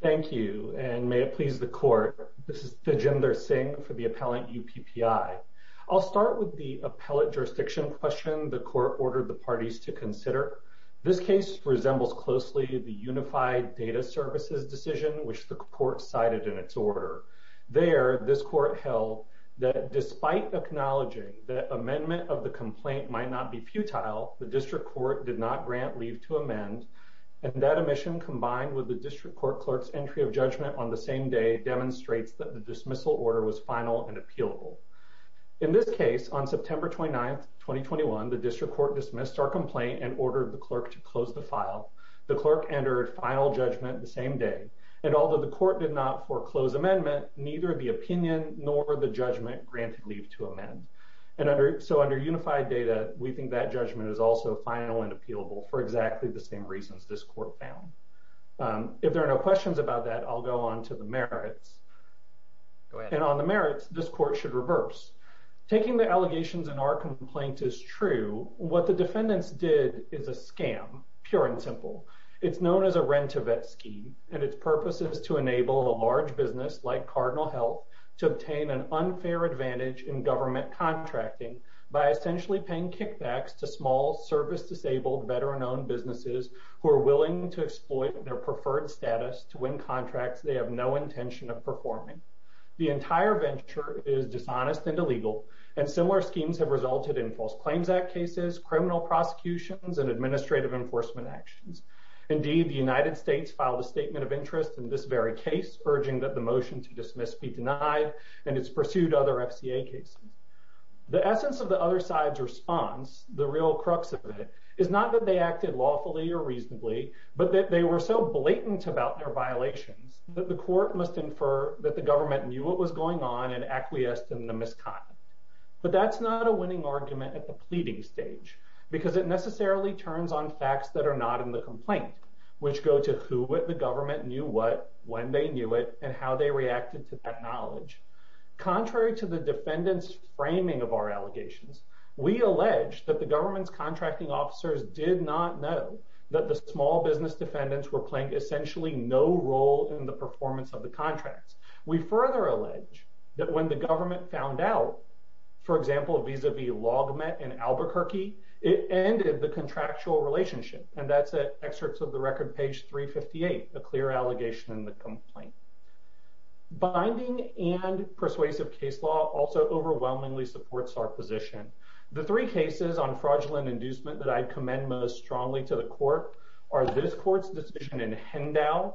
Thank you, and may it please the Court, this is Tejinder Singh for the Appellant UPPI. I'll start with the appellate jurisdiction question the Court ordered the parties to consider. This case resembles closely the Unified Data Services decision which the Court cited in its order. There, this Court held that despite acknowledging that amendment of the complaint might not be futile, the District Court did not grant leave to amend, and that omission combined with the District Court Clerk's entry of judgment on the same day demonstrates that the dismissal order was final and appealable. In this case, on September 29, 2021, the District Court dismissed our complaint and ordered the Clerk to close the file. The Clerk entered final judgment the same day, and although the Court did not foreclose amendment, neither the opinion nor the judgment granted leave to amend. And under, so under Unified Data, we think that judgment is also final and appealable for exactly the same reasons this Court found. If there are no questions about that, I'll go on to the merits. And on the merits, this Court should reverse. Taking the allegations in our complaint is true. What the defendants did is a scam, pure and simple. It's known as a rent-to-vet scheme, and its purpose is to enable a large business like Cardinal Health to obtain an unfair advantage in government contracting by essentially paying kickbacks to small, service-disabled, veteran-owned businesses who are willing to exploit their preferred status to win contracts they have no intention of performing. The entire venture is dishonest and illegal, and similar schemes have resulted in False Claims Act cases, criminal prosecutions, and administrative enforcement actions. Indeed, the United States filed a statement of interest in this very case, urging that the motion to dismiss be denied, and it's pursued other FCA cases. The essence of the other side's response, the real crux of it, is not that they acted lawfully or reasonably, but that they were so blatant about their violations that the Court must infer that the government knew what was going on and acquiesced in the misconduct. But that's not a winning argument at the pleading stage, because it necessarily turns on facts that are not in the complaint, which go to who the government knew what, when they knew it, and how they reacted to that knowledge. Contrary to the defendant's framing of our allegations, we allege that the government's contracting officers did not know that the small business defendants were playing essentially no role in the performance of the contracts. We further allege that when the government found out, for example, vis-a-vis LogMet and Albuquerque, it ended the contractual relationship, and that's at excerpts of the record, page 358, a clear allegation in the complaint. Binding and persuasive case law also overwhelmingly supports our position. The three cases on fraudulent inducement that I commend most strongly to the Court are this Court's decision in Hendow,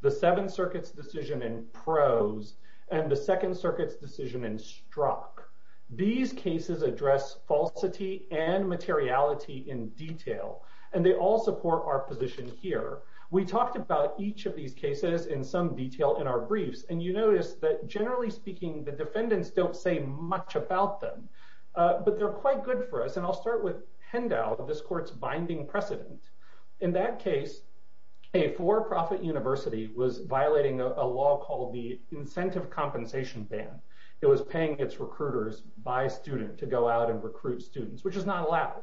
the Seventh Circuit's decision in Prose, and the Second Circuit's decision in Strzok. These cases address falsity and materiality in detail, and they all support our position here. We talked about each of these cases in some detail in our briefs, and you notice that, generally speaking, the defendants don't say much about them, but they're quite good for us, and I'll start with Hendow, this Court's binding precedent. In that case, a for-profit university was violating a law called the Incentive Compensation Ban. It was paying its recruiters by student to go out and recruit students, which is not allowed.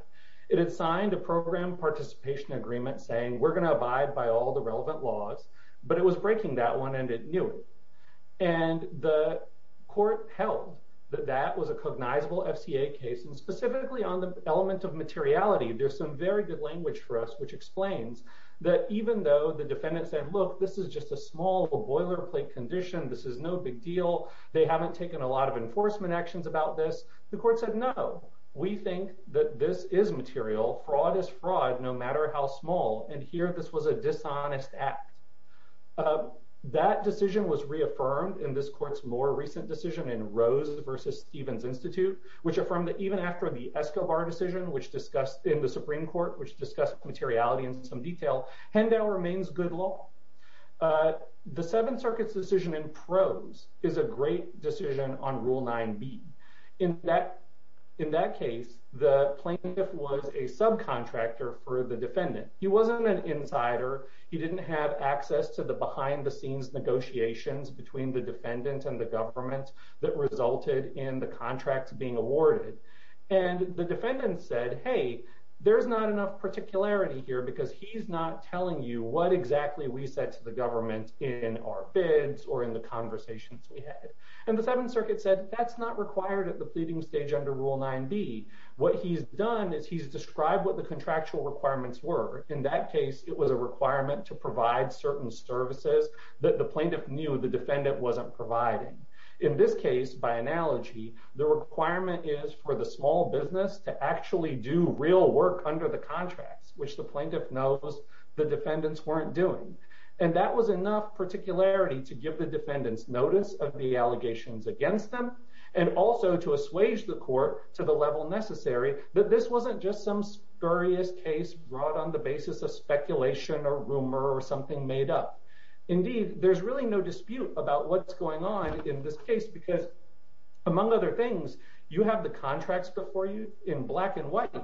It had signed a program participation agreement saying, we're going to abide by all the relevant laws, but it was breaking that one, and it knew it, and the Court held that that was a cognizable FCA case, and specifically on the element of materiality, there's some very good language for us which explains that even though the defendant said, look, this is just a small boilerplate condition, this is no big deal, they haven't taken a lot of enforcement actions about this, the Court said, no, we think that this is material, fraud is fraud, no matter how small, and here this was a dishonest act. That decision was reaffirmed in this Court's more recent decision in Rose v. Stevens Institute, which affirmed that even after the Escobar decision in the Supreme Court, which discussed materiality in some detail, Hendow remains good law. The Seventh Circuit's decision in prose is a great decision on Rule 9b. In that case, the plaintiff was a subcontractor for the defendant. He wasn't an insider. He didn't have access to the behind-the-scenes negotiations between the defendant and the government that resulted in the contract being awarded, and the defendant said, hey, there's not enough particularity here because he's not telling you what exactly we in our bids or in the conversations we had. And the Seventh Circuit said, that's not required at the pleading stage under Rule 9b. What he's done is he's described what the contractual requirements were. In that case, it was a requirement to provide certain services that the plaintiff knew the defendant wasn't providing. In this case, by analogy, the requirement is for the small business to actually do real work under the contracts, which the plaintiff knows the defendants weren't doing. And that was enough particularity to give the defendants notice of the allegations against them, and also to assuage the court to the level necessary that this wasn't just some spurious case brought on the basis of speculation or rumor or something made up. Indeed, there's really no dispute about what's going on in this case because, among other things, you have the contracts before you in black and white,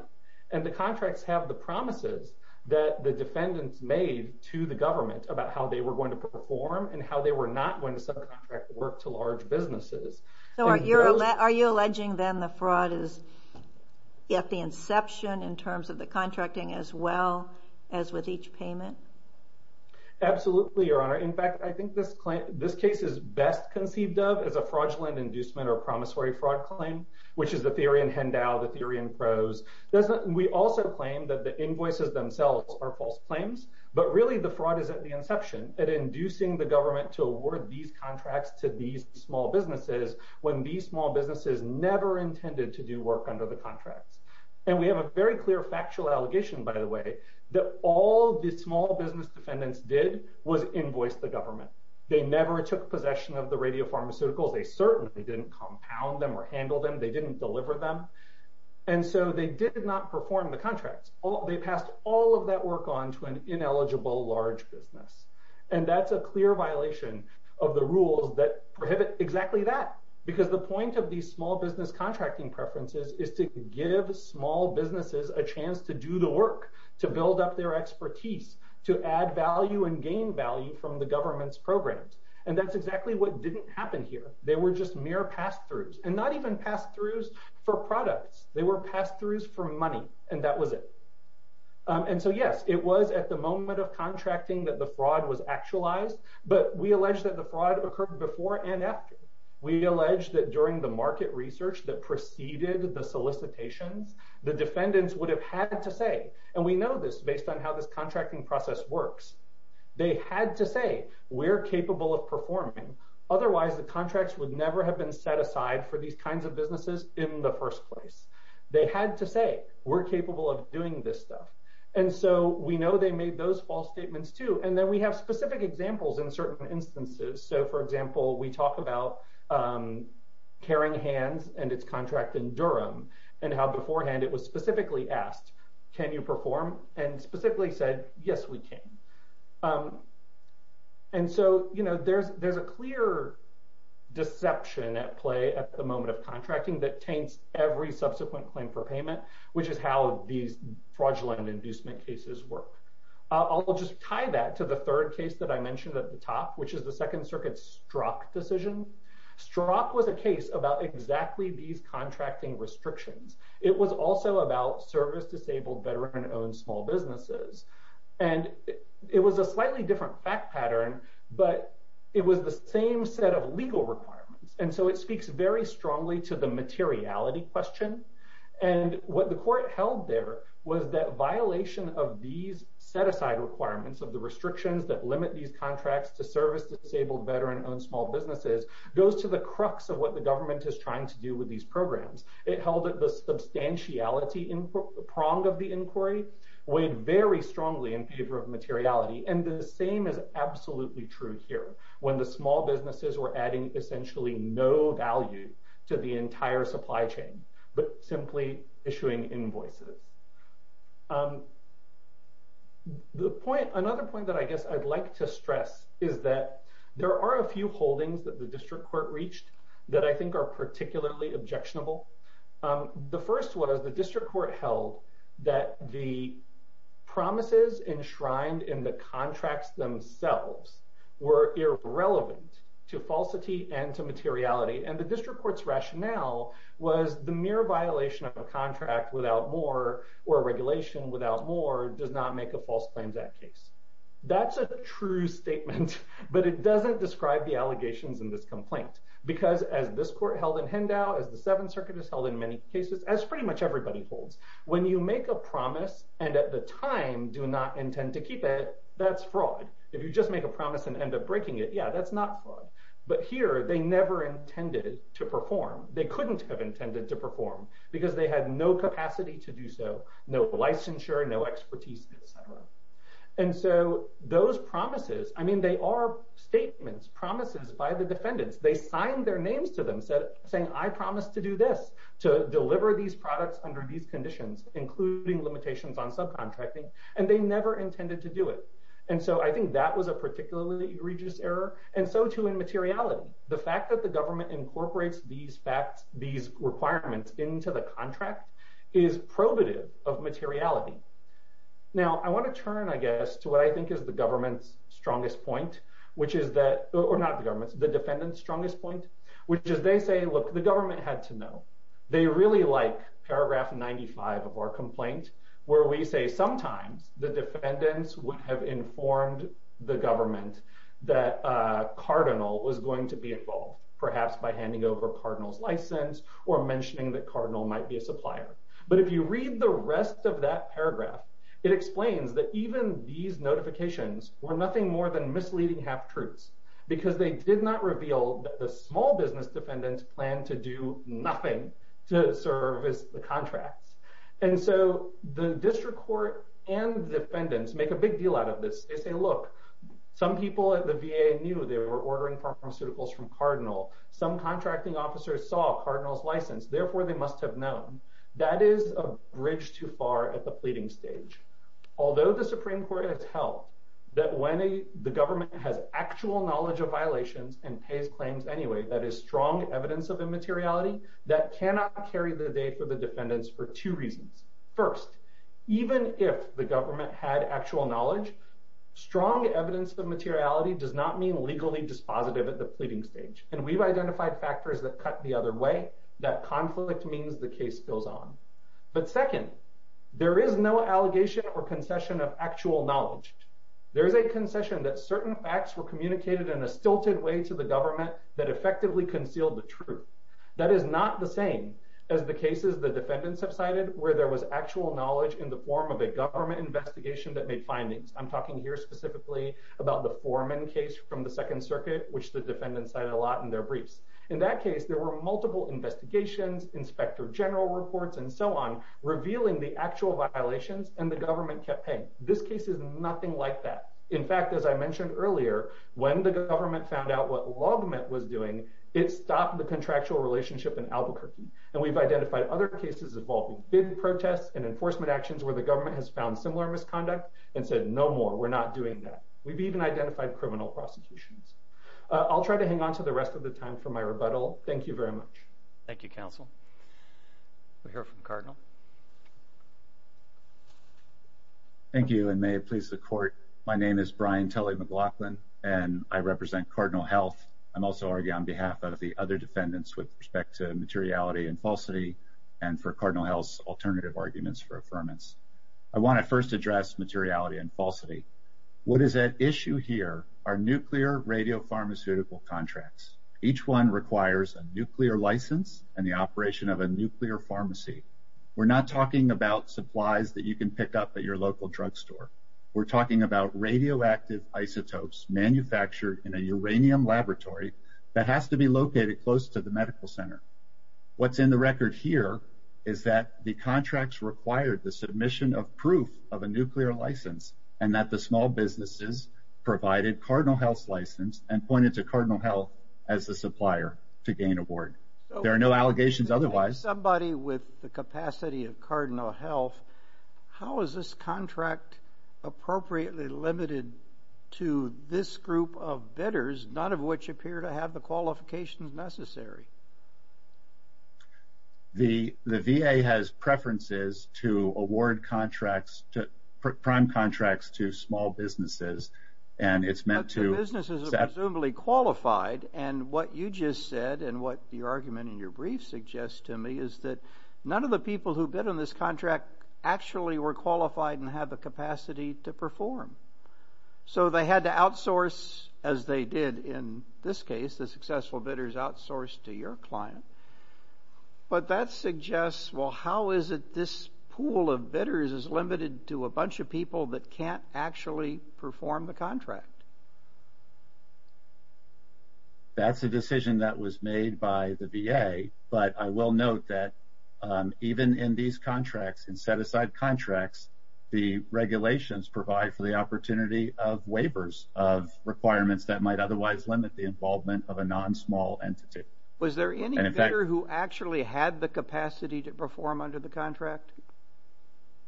and the contracts have the promises that the defendants made to the government about how they were going to perform and how they were not going to subcontract work to large businesses. So are you alleging then the fraud is at the inception in terms of the contracting as well as with each payment? Absolutely, Your Honor. In fact, I think this case is best conceived of as a fraudulent inducement or promissory fraud claim, which is the theory in Hendau, the theory in prose. We also claim that the invoices themselves are false claims, but really the fraud is at the inception at inducing the government to award these contracts to these small businesses when these small businesses never intended to do work under the contracts. And we have a very clear factual allegation, by the way, that all the small business defendants did was invoice the government. They never took possession of the radiopharmaceuticals. They certainly didn't compound them or handle them. They didn't deliver them. And so they did not perform the contracts. They passed all of that work on to an ineligible, large business. And that's a clear violation of the rules that prohibit exactly that, because the point of these small business contracting preferences is to give small businesses a chance to do the work, to build up their expertise, to add value and gain value from the government's programs. And that's exactly what didn't happen here. They were just mere pass-throughs, and not even pass-throughs for products. They were pass-throughs for money, and that was it. And so, yes, it was at the moment of contracting that the fraud was actualized, but we allege that the fraud occurred before and after. We allege that during the market research that preceded the solicitations, the defendants would have had to say, and we know this based on how this contracting process works, they had to say, we're capable of performing. Otherwise, the contracts would never have been set aside for these kinds of businesses in the first place. They had to say, we're capable of doing this stuff. And so we know they made those false statements too. And then we have specific examples in certain instances. So, for example, we talk about Caring Hands and its contract in Durham, and how beforehand it was specifically asked, can you perform? And specifically said, yes, we can. And so, there's a clear deception at play at the moment of contracting that taints every subsequent claim for payment, which is how these fraudulent inducement cases work. I'll just tie that to the third case that I mentioned at the top, which is the Second Circuit's Strzok decision. Strzok was a case about exactly these contracting restrictions. It was also about service-disabled veteran-owned small businesses. And it was a slightly different fact pattern, but it was the same set of legal requirements. And so it speaks very strongly to the materiality question. And what the court held there was that violation of these set-aside requirements of the restrictions that limit these contracts to service-disabled veteran-owned small businesses goes to the crux of what the government is trying to do with these programs. It held that the substantiality prong of the inquiry weighed very strongly in favor of materiality. And the same is absolutely true here, when the small businesses were adding essentially no value to the entire supply chain, but simply issuing invoices. Another point that I guess I'd like to stress is that there are a few holdings that the are particularly objectionable. The first was the district court held that the promises enshrined in the contracts themselves were irrelevant to falsity and to materiality. And the district court's rationale was the mere violation of a contract without more or a regulation without more does not make a False Claims Act case. That's a true statement, but it doesn't describe the court held in Hendow, as the Seventh Circuit has held in many cases, as pretty much everybody holds. When you make a promise and at the time do not intend to keep it, that's fraud. If you just make a promise and end up breaking it, yeah, that's not fraud. But here, they never intended to perform. They couldn't have intended to perform, because they had no capacity to do so, no licensure, no expertise, etc. And so those promises, I mean, they are statements, promises by the defendants. They signed their names to them, saying, I promise to do this, to deliver these products under these conditions, including limitations on subcontracting, and they never intended to do it. And so I think that was a particularly egregious error, and so too in materiality. The fact that the government incorporates these requirements into the contract is probative of materiality. Now, I want to turn, I guess, to what I think is the government's strongest point, which is that, or not the government's, the defendant's strongest point, which is they say, look, the government had to know. They really like paragraph 95 of our complaint, where we say sometimes the defendants would have informed the government that a cardinal was going to be involved, perhaps by handing over cardinal's license or mentioning that cardinal might be a supplier. But if you read the rest of that paragraph, it explains that even these notifications were nothing more than misleading half-truths, because they did not reveal that the small business defendants plan to do nothing to serve as the contracts. And so the district court and defendants make a big deal out of this. They say, look, some people at the VA knew they were ordering pharmaceuticals from cardinal. Some contracting officers saw cardinal's license, therefore they must have known. That is a bridge too far at the pleading stage. Although the Supreme Court has held that when the government has actual knowledge of violations and pays claims anyway, that is strong evidence of immateriality, that cannot carry the day for the defendants for two reasons. First, even if the government had actual knowledge, strong evidence of materiality does not mean legally dispositive at the pleading stage. And we've identified factors that cut the other way, that conflict means the case goes on. But second, there is no allegation or concession of actual knowledge. There is a concession that certain facts were communicated in a stilted way to the government that effectively concealed the truth. That is not the same as the cases the defendants have cited where there was actual knowledge in the form of a government investigation that made findings. I'm talking here specifically about the Foreman case from the Second Circuit, which the defendants cited a lot in their briefs. In that case, there were multiple investigations, inspector general reports, and so on, revealing the actual violations and the government kept paying. This case is nothing like that. In fact, as I mentioned earlier, when the government found out what LogMint was doing, it stopped the contractual relationship in Albuquerque. And we've identified other cases involving big protests and enforcement actions where the government has found similar misconduct and said, no more, we're not doing that. We've even identified criminal prosecutions. I'll try to hang on to the rest of the time for my rebuttal. Thank you very much. Thank you, Counsel. We'll hear from Cardinal. Thank you, and may it please the Court. My name is Brian Tully McLaughlin, and I represent Cardinal Health. I'm also arguing on behalf of the other defendants with respect to materiality and falsity and for Cardinal Health's alternative arguments for affirmance. I want to first address materiality and falsity. What is at issue here are nuclear radiopharmaceutical contracts. Each one requires a nuclear license and the operation of a nuclear pharmacy. We're not talking about supplies that you can pick up at your local drugstore. We're talking about radioactive isotopes manufactured in a uranium laboratory that has to be located close to the medical center. What's in the record here is that the contracts required the submission of proof of a nuclear license and that the small businesses provided Cardinal Health's license and pointed to Cardinal Health as the supplier to gain award. There are no allegations otherwise. Somebody with the capacity of Cardinal Health, how is this contract appropriately limited to this group of bidders, none of which appear to have the qualifications necessary? The VA has preferences to award contracts to prime contracts to small businesses and it's meant to... The businesses are presumably qualified and what you just said and what the argument in your brief suggests to me is that none of the people who bid on this contract actually were qualified and have the capacity to perform. So they had to outsource as they did in this case the successful bidders outsourced to your client but that suggests well how is it this pool of bidders is limited to a bunch of people that can't actually perform the contract? That's a decision that was made by the VA but I will note that even in these contracts and set aside contracts the regulations provide for the opportunity of waivers of requirements that might otherwise limit the involvement of a non-small entity. Was there any bidder who actually had the capacity to perform under the contract?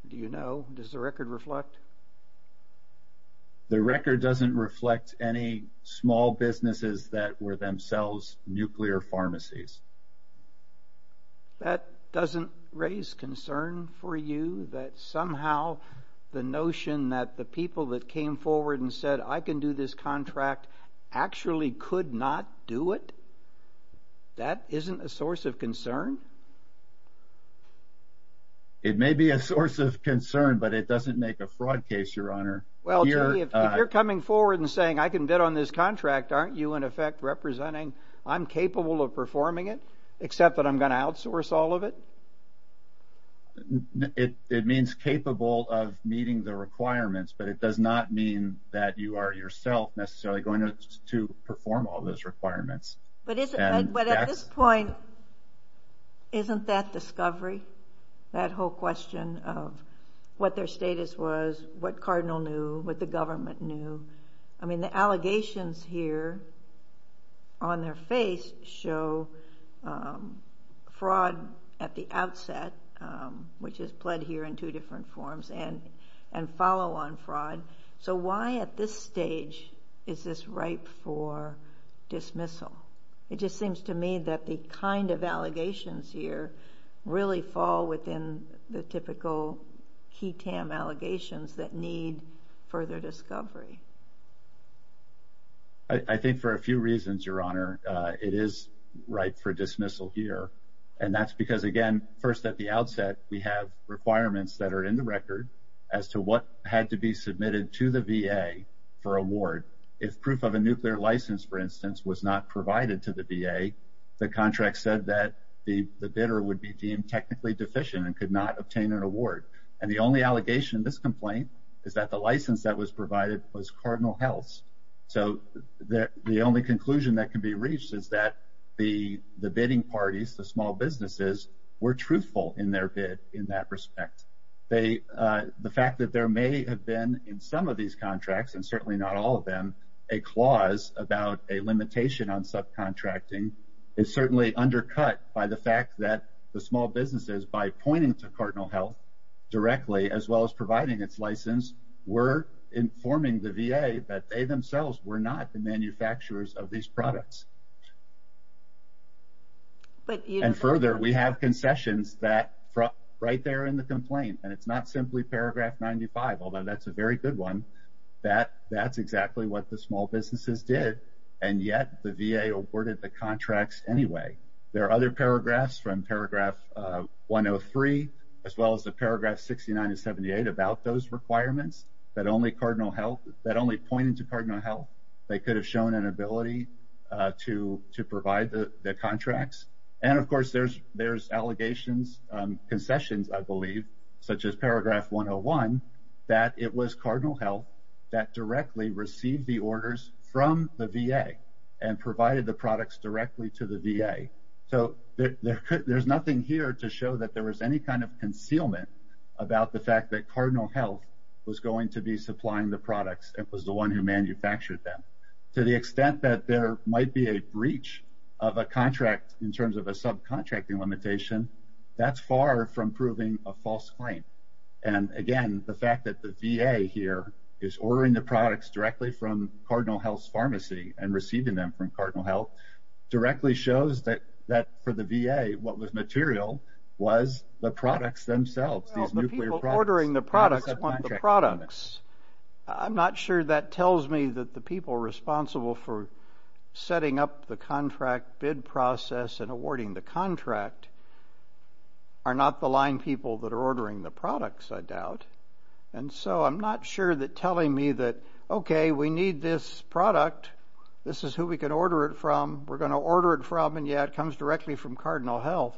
Do you know? Does the record reflect? The record doesn't reflect any small businesses that were themselves nuclear pharmacies. That doesn't raise concern for you that somehow the notion that the people that came forward and actually could not do it that isn't a source of concern? It may be a source of concern but it doesn't make a fraud case your honor. Well if you're coming forward and saying I can bid on this contract aren't you in effect representing I'm capable of performing it except that I'm going to outsource all of it? It means capable of meeting the requirements but it does not mean that you are yourself necessarily going to perform all those requirements. But at this point isn't that discovery? That whole question of what their status was, what Cardinal knew, what the government knew? I mean the allegations here on their face show fraud at the outset which is pled here in two forms and and follow on fraud. So why at this stage is this ripe for dismissal? It just seems to me that the kind of allegations here really fall within the typical key TAM allegations that need further discovery. I think for a few reasons your honor it is right for dismissal here and that's because again first at the outset we have requirements that are in the record as to what had to be submitted to the VA for award. If proof of a nuclear license for instance was not provided to the VA the contract said that the bidder would be deemed technically deficient and could not obtain an award. And the only allegation in this complaint is that the license that was provided was Cardinal Health's. So the only conclusion that can be reached is that the the bidding parties, the small businesses, were truthful in their bid in that respect. They the fact that there may have been in some of these contracts and certainly not all of them a clause about a limitation on subcontracting is certainly undercut by the fact that the small businesses by pointing to Cardinal Health directly as well as providing its license were informing the VA that they themselves were not the manufacturers of these products. And further we have concessions that from right there in the complaint and it's not simply paragraph 95 although that's a very good one that that's exactly what the small businesses did and yet the VA awarded the contracts anyway. There are other paragraphs from paragraph 103 as well as the paragraph 69 to 78 about those requirements that only Cardinal Health that only pointed to Cardinal Health they could have shown an ability to to provide the the contracts. And of course there's there's allegations concessions I believe such as paragraph 101 that it was Cardinal Health that directly received the orders from the VA and provided the products directly to the VA. So there could there's nothing here to show that there was any kind of concealment about the fact that Cardinal Health was going to be supplying the products it was the one who manufactured them. To the extent that there might be a breach of a contract in terms of a subcontracting limitation that's far from proving a false claim. And again the fact that the VA here is ordering the products directly from Cardinal Health's pharmacy and receiving them from Cardinal Health directly shows that that for the VA what was material was the products themselves. These nuclear products. The people ordering the products want the products. I'm not sure that tells me that the people responsible for setting up the contract bid process and awarding the contract are not the line people that are ordering the products I doubt. And so I'm not sure that telling me that okay we need this product this is who we can order it from we're going to order it from and yeah it comes directly from Cardinal Health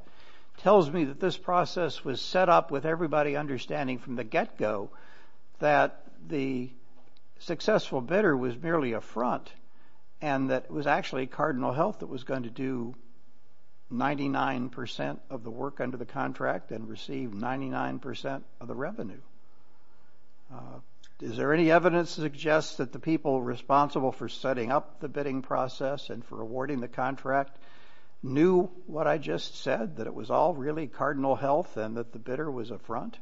tells me that this process was set up with everybody understanding from the get-go that the successful bidder was merely a front and that it was actually Cardinal Health that was going to do 99 percent of the work under the contract and receive 99 percent of the revenue. Is there any evidence suggests that the people responsible for setting up the bidding process and for awarding the contract knew what I just said that it was all really Cardinal Health and that the bidder was a front?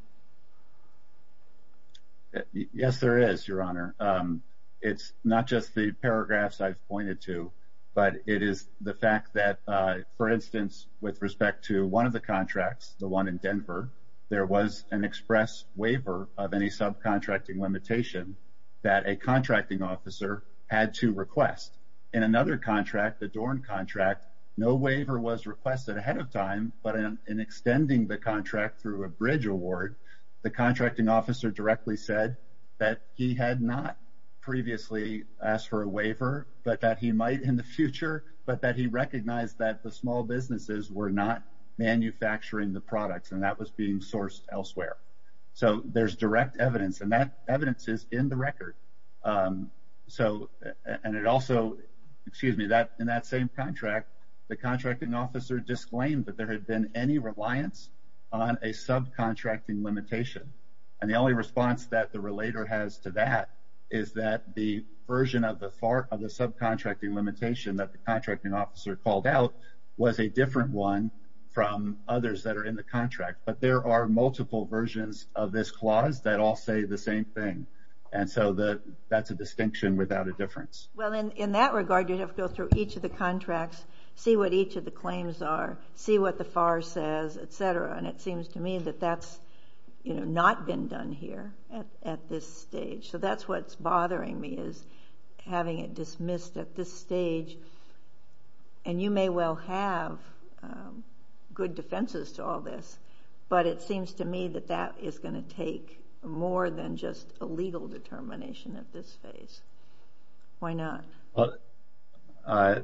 Yes there is your honor. It's not just the paragraphs I've pointed to but it is the fact that for instance with respect to one of the contracts the one in Denver there was an express waiver of any subcontracting limitation that a contracting officer had to request. In another contract the Dorn contract no waiver was requested ahead of time but in extending the contract through a bridge award the contracting officer directly said that he had not previously asked for a waiver but that he might in the future but that he recognized that the small businesses were not manufacturing the products and that was being sourced elsewhere. So there's direct evidence and that evidence is in the record so and it also excuse me that in that same contract the contracting officer disclaimed that there had been any reliance on a subcontracting limitation and the only response that the relator has to that is that the version of the far of the one from others that are in the contract but there are multiple versions of this clause that all say the same thing and so that that's a distinction without a difference. Well in that regard you have to go through each of the contracts see what each of the claims are see what the far says etc and it seems to me that that's you know not been done here at this stage so that's what's missed at this stage and you may well have good defenses to all this but it seems to me that that is going to take more than just a legal determination at this phase. Why not? That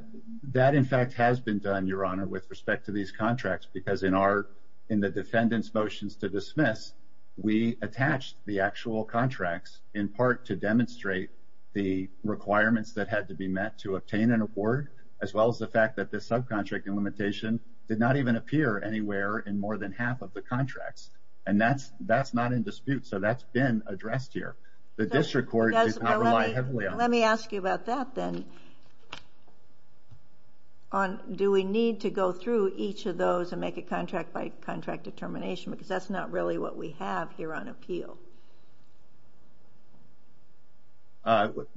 in fact has been done your honor with respect to these contracts because in our in the defendant's motions to dismiss we attached the actual contracts in part to demonstrate the requirements that had to be met to obtain an award as well as the fact that this subcontracting limitation did not even appear anywhere in more than half of the contracts and that's that's not in dispute so that's been addressed here the district court does not rely heavily on. Let me ask you about that then on do we need to go through each of those and make a contract by contract determination because that's not really what we have here on appeal.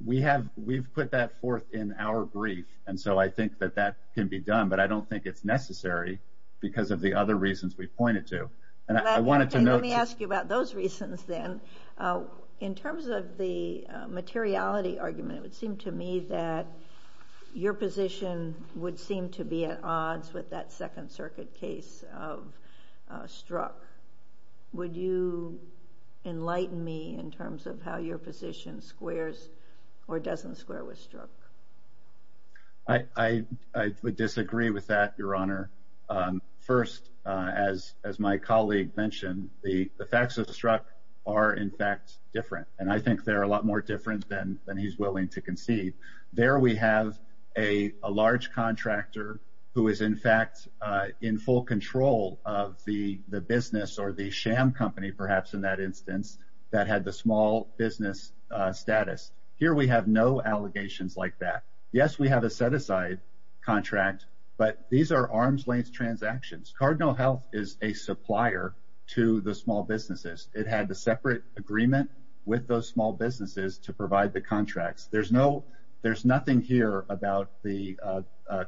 We have we've put that forth in our brief and so I think that that can be done but I don't think it's necessary because of the other reasons we pointed to and I wanted to know let me ask you about those reasons then in terms of the materiality argument it would seem to me that your position would seem to be at odds with that second circuit case of struck would you enlighten me in terms of how your position squares or doesn't square with struck. I would disagree with that your honor. First as my colleague mentioned the facts of struck are in fact different and I think they're a lot more different than he's willing to concede. There we have a large contractor who is in fact in full control of the business or the instance that had the small business status. Here we have no allegations like that. Yes we have a set aside contract but these are arms length transactions. Cardinal Health is a supplier to the small businesses. It had a separate agreement with those small businesses to provide the contracts. There's no there's nothing here about the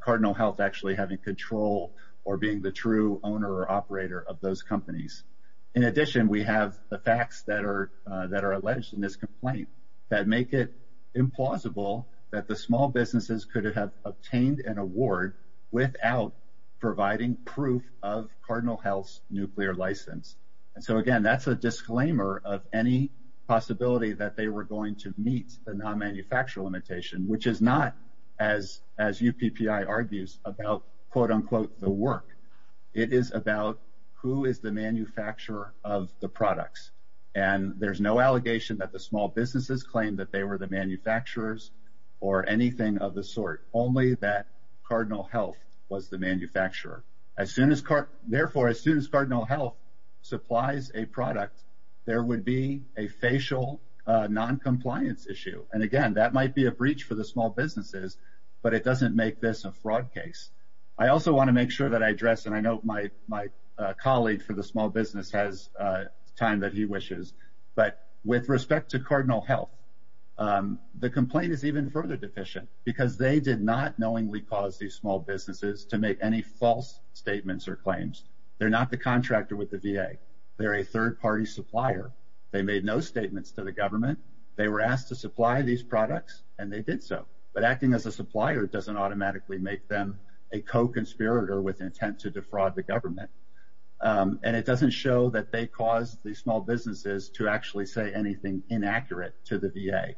Cardinal Health actually having control or being the true owner or operator of those companies. In addition we have the facts that are that are alleged in this complaint that make it implausible that the small businesses could have obtained an award without providing proof of Cardinal Health's nuclear license and so again that's a disclaimer of any possibility that they were going to meet the non-manufacturer limitation which is not as as UPPI argues about quote-unquote the work. It is about who is the manufacturer of the products and there's no allegation that the small businesses claim that they were the manufacturers or anything of the sort. Only that Cardinal Health was the manufacturer. As soon as therefore as soon as Cardinal Health supplies a product there would be a facial non-compliance issue and again that might be a breach for the small businesses but it doesn't make this a fraud case. I also want to make sure that I address and I know my my colleague for the small business has time that he wishes but with respect to Cardinal Health the complaint is even further deficient because they did not knowingly cause these small businesses to make any false statements or claims. They're not the contractor with the VA. They're a third-party supplier. They made no statements to the government. They were asked to supply these products and they did so but acting as a supplier doesn't automatically make them a co-conspirator with intent to defraud the government and it doesn't show that they cause these small businesses to actually say anything inaccurate to the VA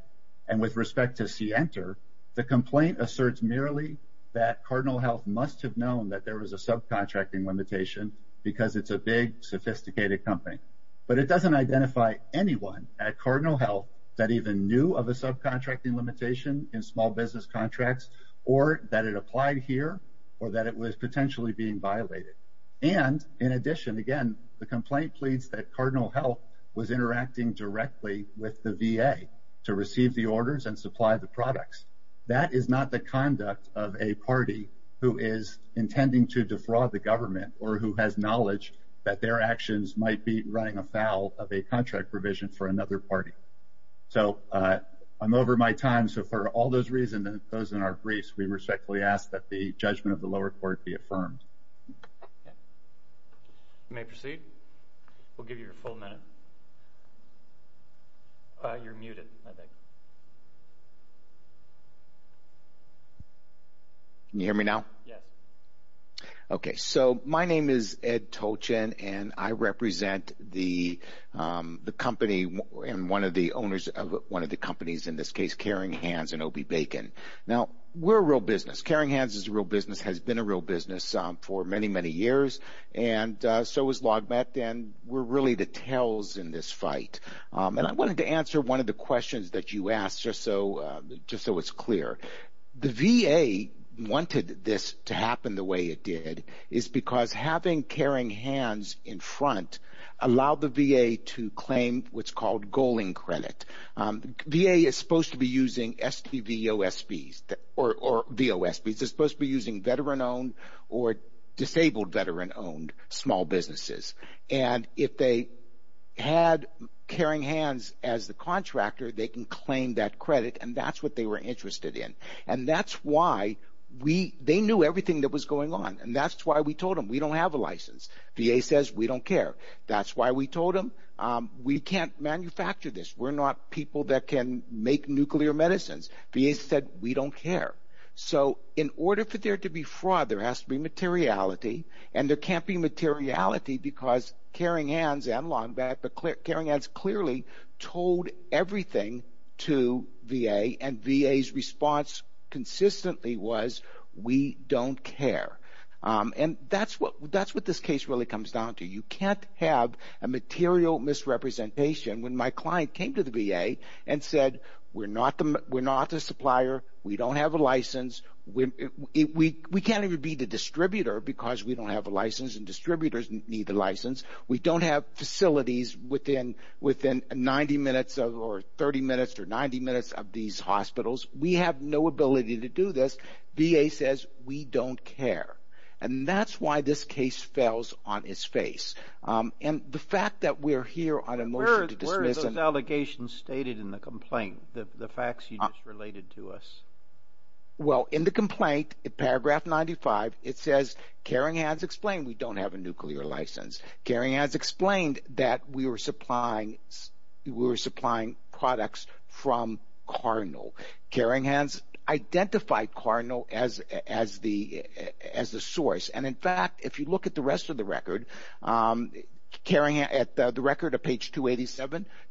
and with respect to Center the complaint asserts merely that Cardinal Health must have known that there was a subcontracting limitation because it's a big sophisticated company but it doesn't identify anyone at Cardinal Health that even knew of a subcontracting limitation in small business contracts or that it applied here or that it was potentially being violated and in addition again the complaint pleads that Cardinal Health was interacting directly with the VA to receive the orders and supply the products. That is not the conduct of a party who is intending to defraud the government or who has knowledge that their actions might be running afoul of a contract provision for another party. So I'm over my time so for all those reasons and those in our briefs we respectfully ask that the judgment of the lower court be affirmed. You may proceed. We'll give you your full minute. You're muted I think. Can you hear me now? Yes. Okay so my name is Ed Tolchin and I represent the company and one of the owners of one of the companies in this case Caring Hands and O.B. Bacon. Now we're a real business. Caring Hands is a real business has been a real business for many many years and so is LogMet and we're really the tails in this fight and I wanted to answer one of the questions that you asked just so just so it's clear. The VA wanted this to happen the way it did is because having Caring Hands in front allowed the VA to claim what's called Goaling Credit. VA is supposed to be using STVOSB's or VOSB's. They're supposed to be using veteran-owned or disabled veteran-owned small businesses and if they had Caring Hands as the contractor they can claim that credit and that's what they were interested in and that's why we they knew everything that was going on and that's why we told them we don't have a license. VA says we don't care. That's why we told them we can't manufacture this. We're not people that can make nuclear medicines. VA said we don't care. So in order for there to be fraud there has to be materiality and there can't be materiality because Caring Hands and LogMet but Caring Hands clearly told everything to VA and VA's response consistently was we don't care and that's what that's what this case really comes down to. You can't have a material misrepresentation when my client came to the VA and said we're not the supplier. We don't have a license. We can't even be the distributor because we don't have a license and distributors need the license. We don't have facilities within 90 minutes or 30 minutes or 90 minutes of these hospitals. We have no ability to do this. VA says we don't care and that's why this case fells on its face and the fact that we're here on a motion to dismiss. What are those allegations stated in the complaint? The facts you just related to us? Well in the complaint in paragraph 95 it says Caring Hands explained we don't have a nuclear license. Caring Hands explained that we were supplying we were supplying products from Cardinal. Caring Hands identified Cardinal as the source and in fact if you look at the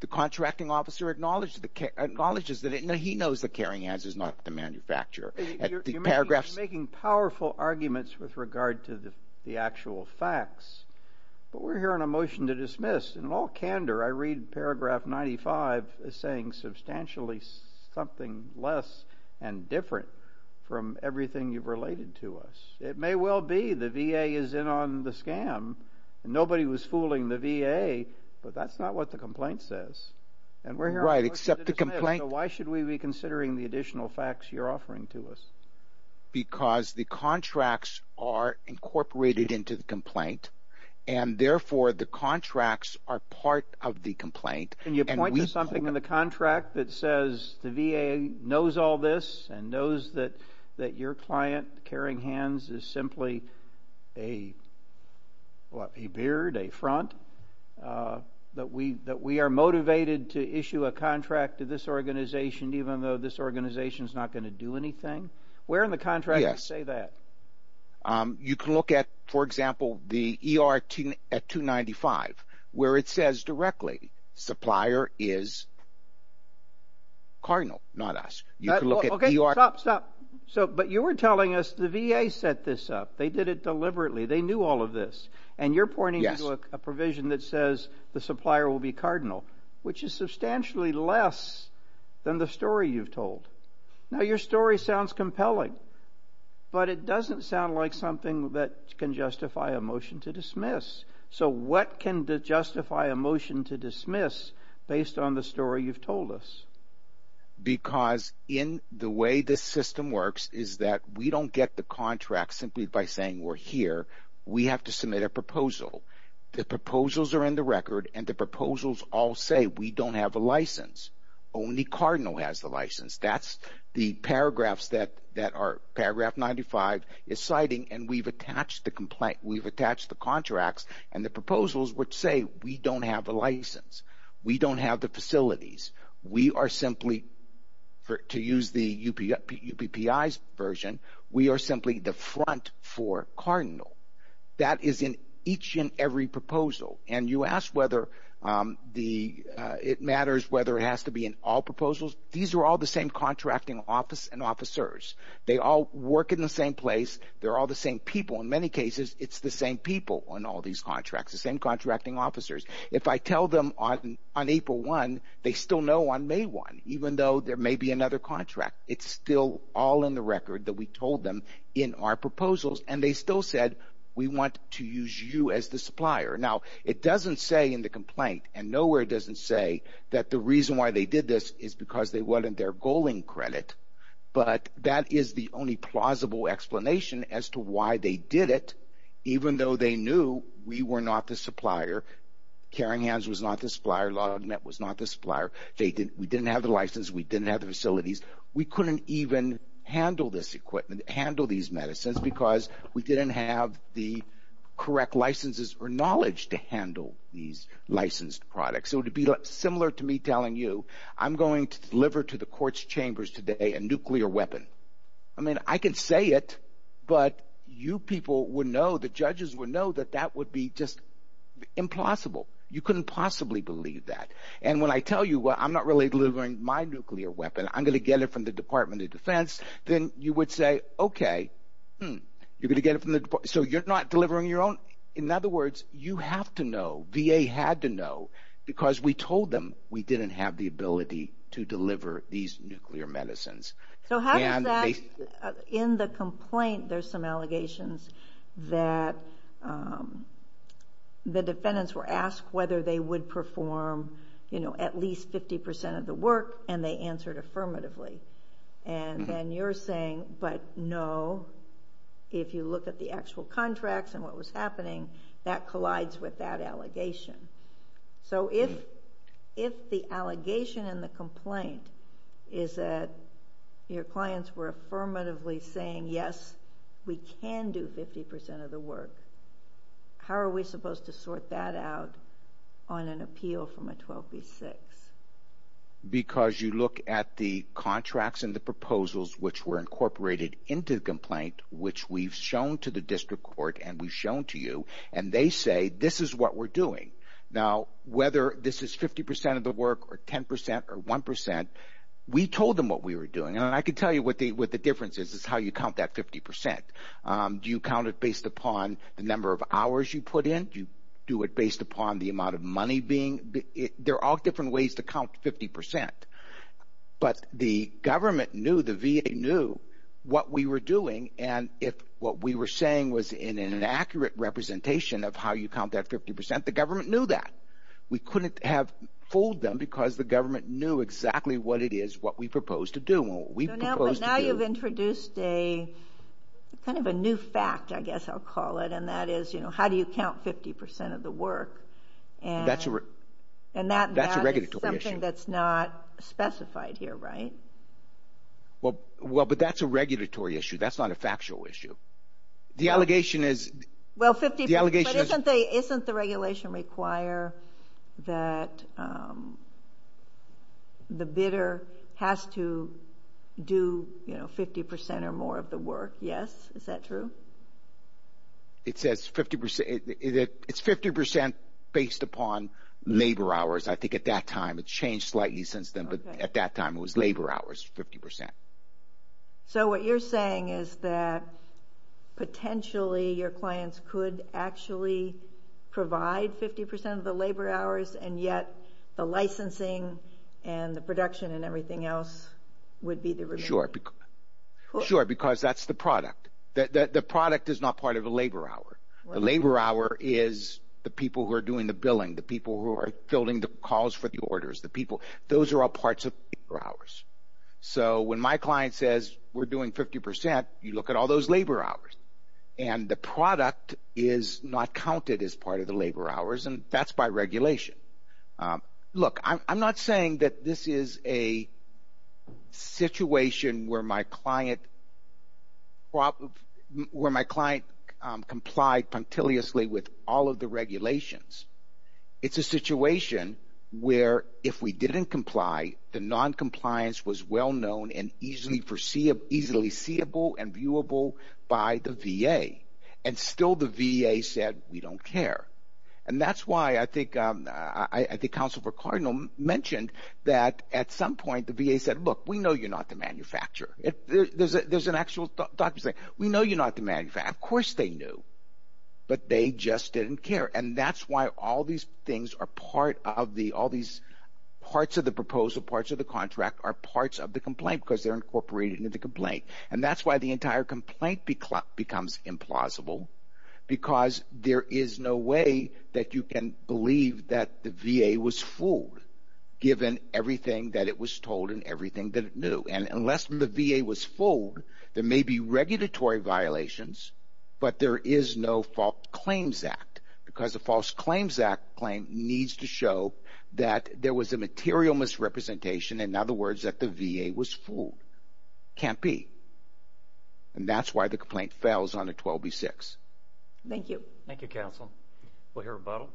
contracting officer acknowledges that he knows that Caring Hands is not the manufacturer. You're making powerful arguments with regard to the actual facts but we're here on a motion to dismiss and in all candor I read paragraph 95 as saying substantially something less and different from everything you've related to us. It may well be the VA is in on the scam and nobody was fooling the VA but that's not what the complaint says and we're here. Right except the complaint. Why should we be considering the additional facts you're offering to us? Because the contracts are incorporated into the complaint and therefore the contracts are part of the complaint. Can you point to something in the contract that says the VA knows all this and knows that that your client Caring Hands is simply a what a beard a front that we that we are motivated to issue a contract to this organization even though this organization is not going to do anything? Where in the contract does it say that? You can look at for example the ER 295 where it says directly supplier is cardinal not us. You can look at. Okay stop stop so but you were telling us the VA set this up. They did it deliberately. They knew all of this and you're pointing to a provision that says the supplier will be cardinal which is substantially less than the story you've told. Now your story sounds compelling but it doesn't sound like something that can justify a motion to dismiss. So what can justify a motion to dismiss based on the story you've told us? Because in the way this system works is that we don't get the contract simply by saying we're here. We have to submit a proposal. The proposals are in the record and the proposals all say we don't have a license. Only cardinal has the license. That's the paragraphs that that are 95 is citing and we've attached the complaint. We've attached the contracts and the proposals which say we don't have a license. We don't have the facilities. We are simply to use the UPPI's version. We are simply the front for cardinal. That is in each and every proposal and you ask whether the it matters whether it has to be in all proposals. These are all the same contracting office and officers. They all work in the same place. They're all the same people. In many cases it's the same people on all these contracts. The same contracting officers. If I tell them on April 1 they still know on May 1 even though there may be another contract. It's still all in the record that we told them in our proposals and they still said we want to use you as the supplier. Now it doesn't say in the complaint and nowhere doesn't say that the reason why they did this is because they wanted their goaling credit but that is the only plausible explanation as to why they did it even though they knew we were not the supplier. Caring Hands was not the supplier. LogNet was not the supplier. We didn't have the license. We didn't have the facilities. We couldn't even handle this equipment. Handle these medicines because we didn't have the correct licenses or knowledge to handle these licensed products. So to be similar to me telling you I'm going to deliver to the court's chambers today a nuclear weapon. I mean I can say it but you people would know the judges would know that that would be just impossible. You couldn't possibly believe that and when I tell you well I'm not really delivering my nuclear weapon I'm going to get it from the Department of Defense then you would say okay you're going to get it from the so you're not delivering your own. In other words you have to know VA had to know because we told them we didn't have the ability to deliver these nuclear medicines. So how does that in the complaint there's some allegations that the defendants were asked whether they would perform you know at least 50 percent of the work and they answered affirmatively and then you're saying but no if you look at the actual contracts and what was happening that collides with that allegation. So if the allegation in the complaint is that your clients were affirmatively saying yes we can do 50 percent of the work. How are we supposed to sort that out on an appeal from a 12b6? Because you look at the contracts and the proposals which were incorporated into the complaint which we've shown to the district court and we've shown to you and they say this is what we're doing. Now whether this is 50 percent of the work or 10 percent or one percent we told them what we were doing and I can tell you what the what the difference is is how you count that 50 percent. Do you count it based upon the number of hours you put in? Do you do it based upon the amount of money being there are different ways to count 50 percent but the government knew the VA knew what we were doing and if what we were saying was in an accurate representation of how you count that 50 the government knew that. We couldn't have fooled them because the government knew exactly what it is what we proposed to do. Now you've introduced a kind of a new fact I guess I'll call it and that is you know how do you count 50 percent of the work and that's a regulatory issue that's not specified here right? Well but that's a regulatory issue that's not a factual issue the allegation is well 50 the allegation isn't the regulation require that the bidder has to do you know 50 percent or more of the work yes is that true? It says 50 percent it's 50 percent based upon labor hours I think at that time it changed slightly since then but at that time it was labor hours 50 percent. So what you're saying is that potentially your clients could actually provide 50 percent of the labor hours and yet the licensing and the production and everything else would be the review. Sure because that's the product that the product is not part of a labor hour the labor hour is the people who are doing the billing the people who are building the calls for the orders the are all parts of labor hours. So when my client says we're doing 50 percent you look at all those labor hours and the product is not counted as part of the labor hours and that's by regulation. Look I'm not saying that this is a situation where my client where my client complied punctiliously with all of the regulations it's a situation where if we didn't comply the non-compliance was well known and easily foreseeable easily seeable and viewable by the VA and still the VA said we don't care and that's why I think I think counsel for cardinal mentioned that at some point the VA said look we know you're not the manufacturer if there's a there's an actual doctor saying we know you're not the manufacturer of course they knew but they just didn't care and that's why all these things are part of the all these parts of the proposal parts of the contract are parts of the complaint because they're incorporated into the complaint and that's why the entire complaint becomes implausible because there is no way that you can believe that the VA was fooled given everything that it was told and everything that it knew and unless the VA was fooled there may be regulatory violations but there is no fault claims act because a false claims act claim needs to show that there was a material misrepresentation in other words that the VA was fooled can't be and that's why the complaint fails on a 12b6. Thank you. Thank you counsel. We'll hear a bottle.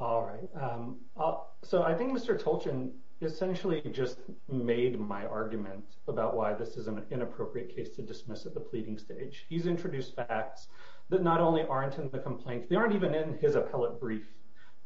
All right. So I think Mr. Tolchin essentially just made my argument about why this is an inappropriate case to dismiss at the pleading stage. He's introduced facts that not only aren't in the complaint they aren't even in his appellate brief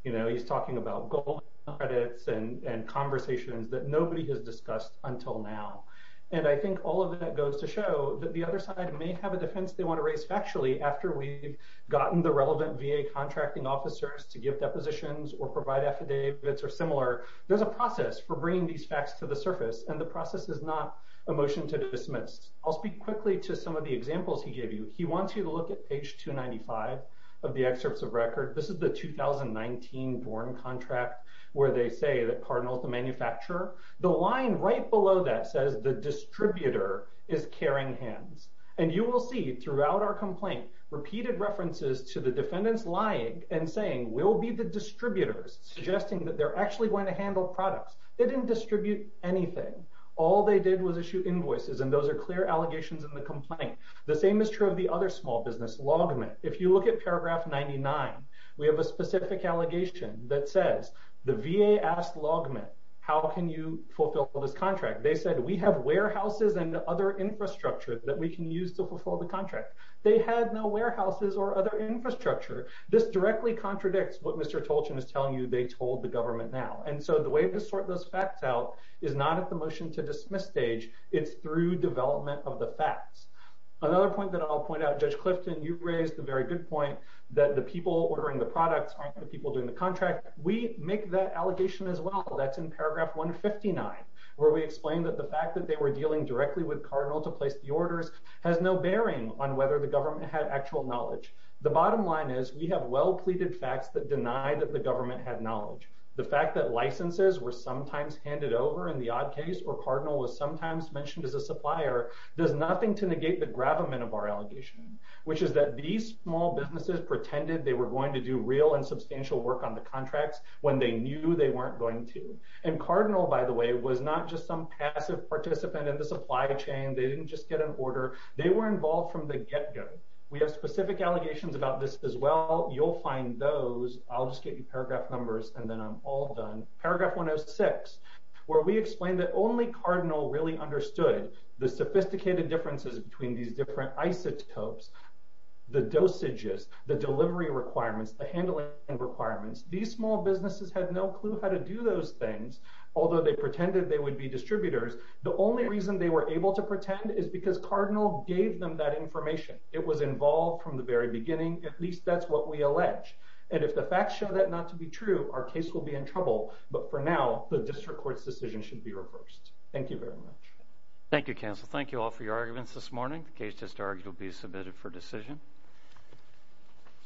you know he's talking about gold credits and conversations that nobody has discussed until now and I think all of that goes to show that the other side may have a defense they want to raise factually after we've gotten the report the relevant VA contracting officers to give depositions or provide affidavits or similar there's a process for bringing these facts to the surface and the process is not a motion to dismiss. I'll speak quickly to some of the examples he gave you he wants you to look at page 295 of the excerpts of record this is the 2019 foreign contract where they say that Cardinal is the manufacturer the line right below that says the distributor is carrying hands and you will see throughout our complaint repeated references to the defendants lying and saying we'll be the distributors suggesting that they're actually going to handle products they didn't distribute anything all they did was issue invoices and those are clear allegations in the complaint the same is true of the other small business logman if you look at paragraph 99 we have a specific allegation that says the VA asked logman how can you fulfill this contract they said we have warehouses and other infrastructure that we can use to fulfill the contract they had no warehouses or other infrastructure this directly contradicts what Mr. Tolchin is telling you they told the government now and so the way to sort those facts out is not at the motion to dismiss stage it's through development of the facts. Another point that I'll point out Judge Clifton you raised a very good point that the people ordering the products aren't the people doing the contract we make that allegation as well that's in paragraph 159 where we explain that the fact that they were dealing directly with Cardinal to place the orders has no bearing on whether the government had actual knowledge the bottom line is we have well pleaded facts that deny that the government had knowledge the fact that licenses were sometimes handed over in the odd case or Cardinal was sometimes mentioned as a supplier does nothing to negate the gravamen of our allegation which is that these small businesses pretended they were going to do real and substantial work on the contracts when they knew they weren't going to and Cardinal by the way was not just some passive participant in the supply chain they didn't just get an order they were involved from the get-go we have specific allegations about this as well you'll find those I'll just get you paragraph numbers and then I'm all done paragraph 106 where we explain that only Cardinal really understood the sophisticated differences between these different isotopes the dosages the delivery requirements the handling requirements these small businesses had no clue how to do those things although they pretended they would be distributors the only reason they were able to pretend is because Cardinal gave them that information it was involved from the very beginning at least that's what we allege and if the facts show that not to be true our case will be in trouble but for now the district court's decision should be reversed thank you very much thank you counsel thank you all for your arguments this morning the case just argued will be submitted for decision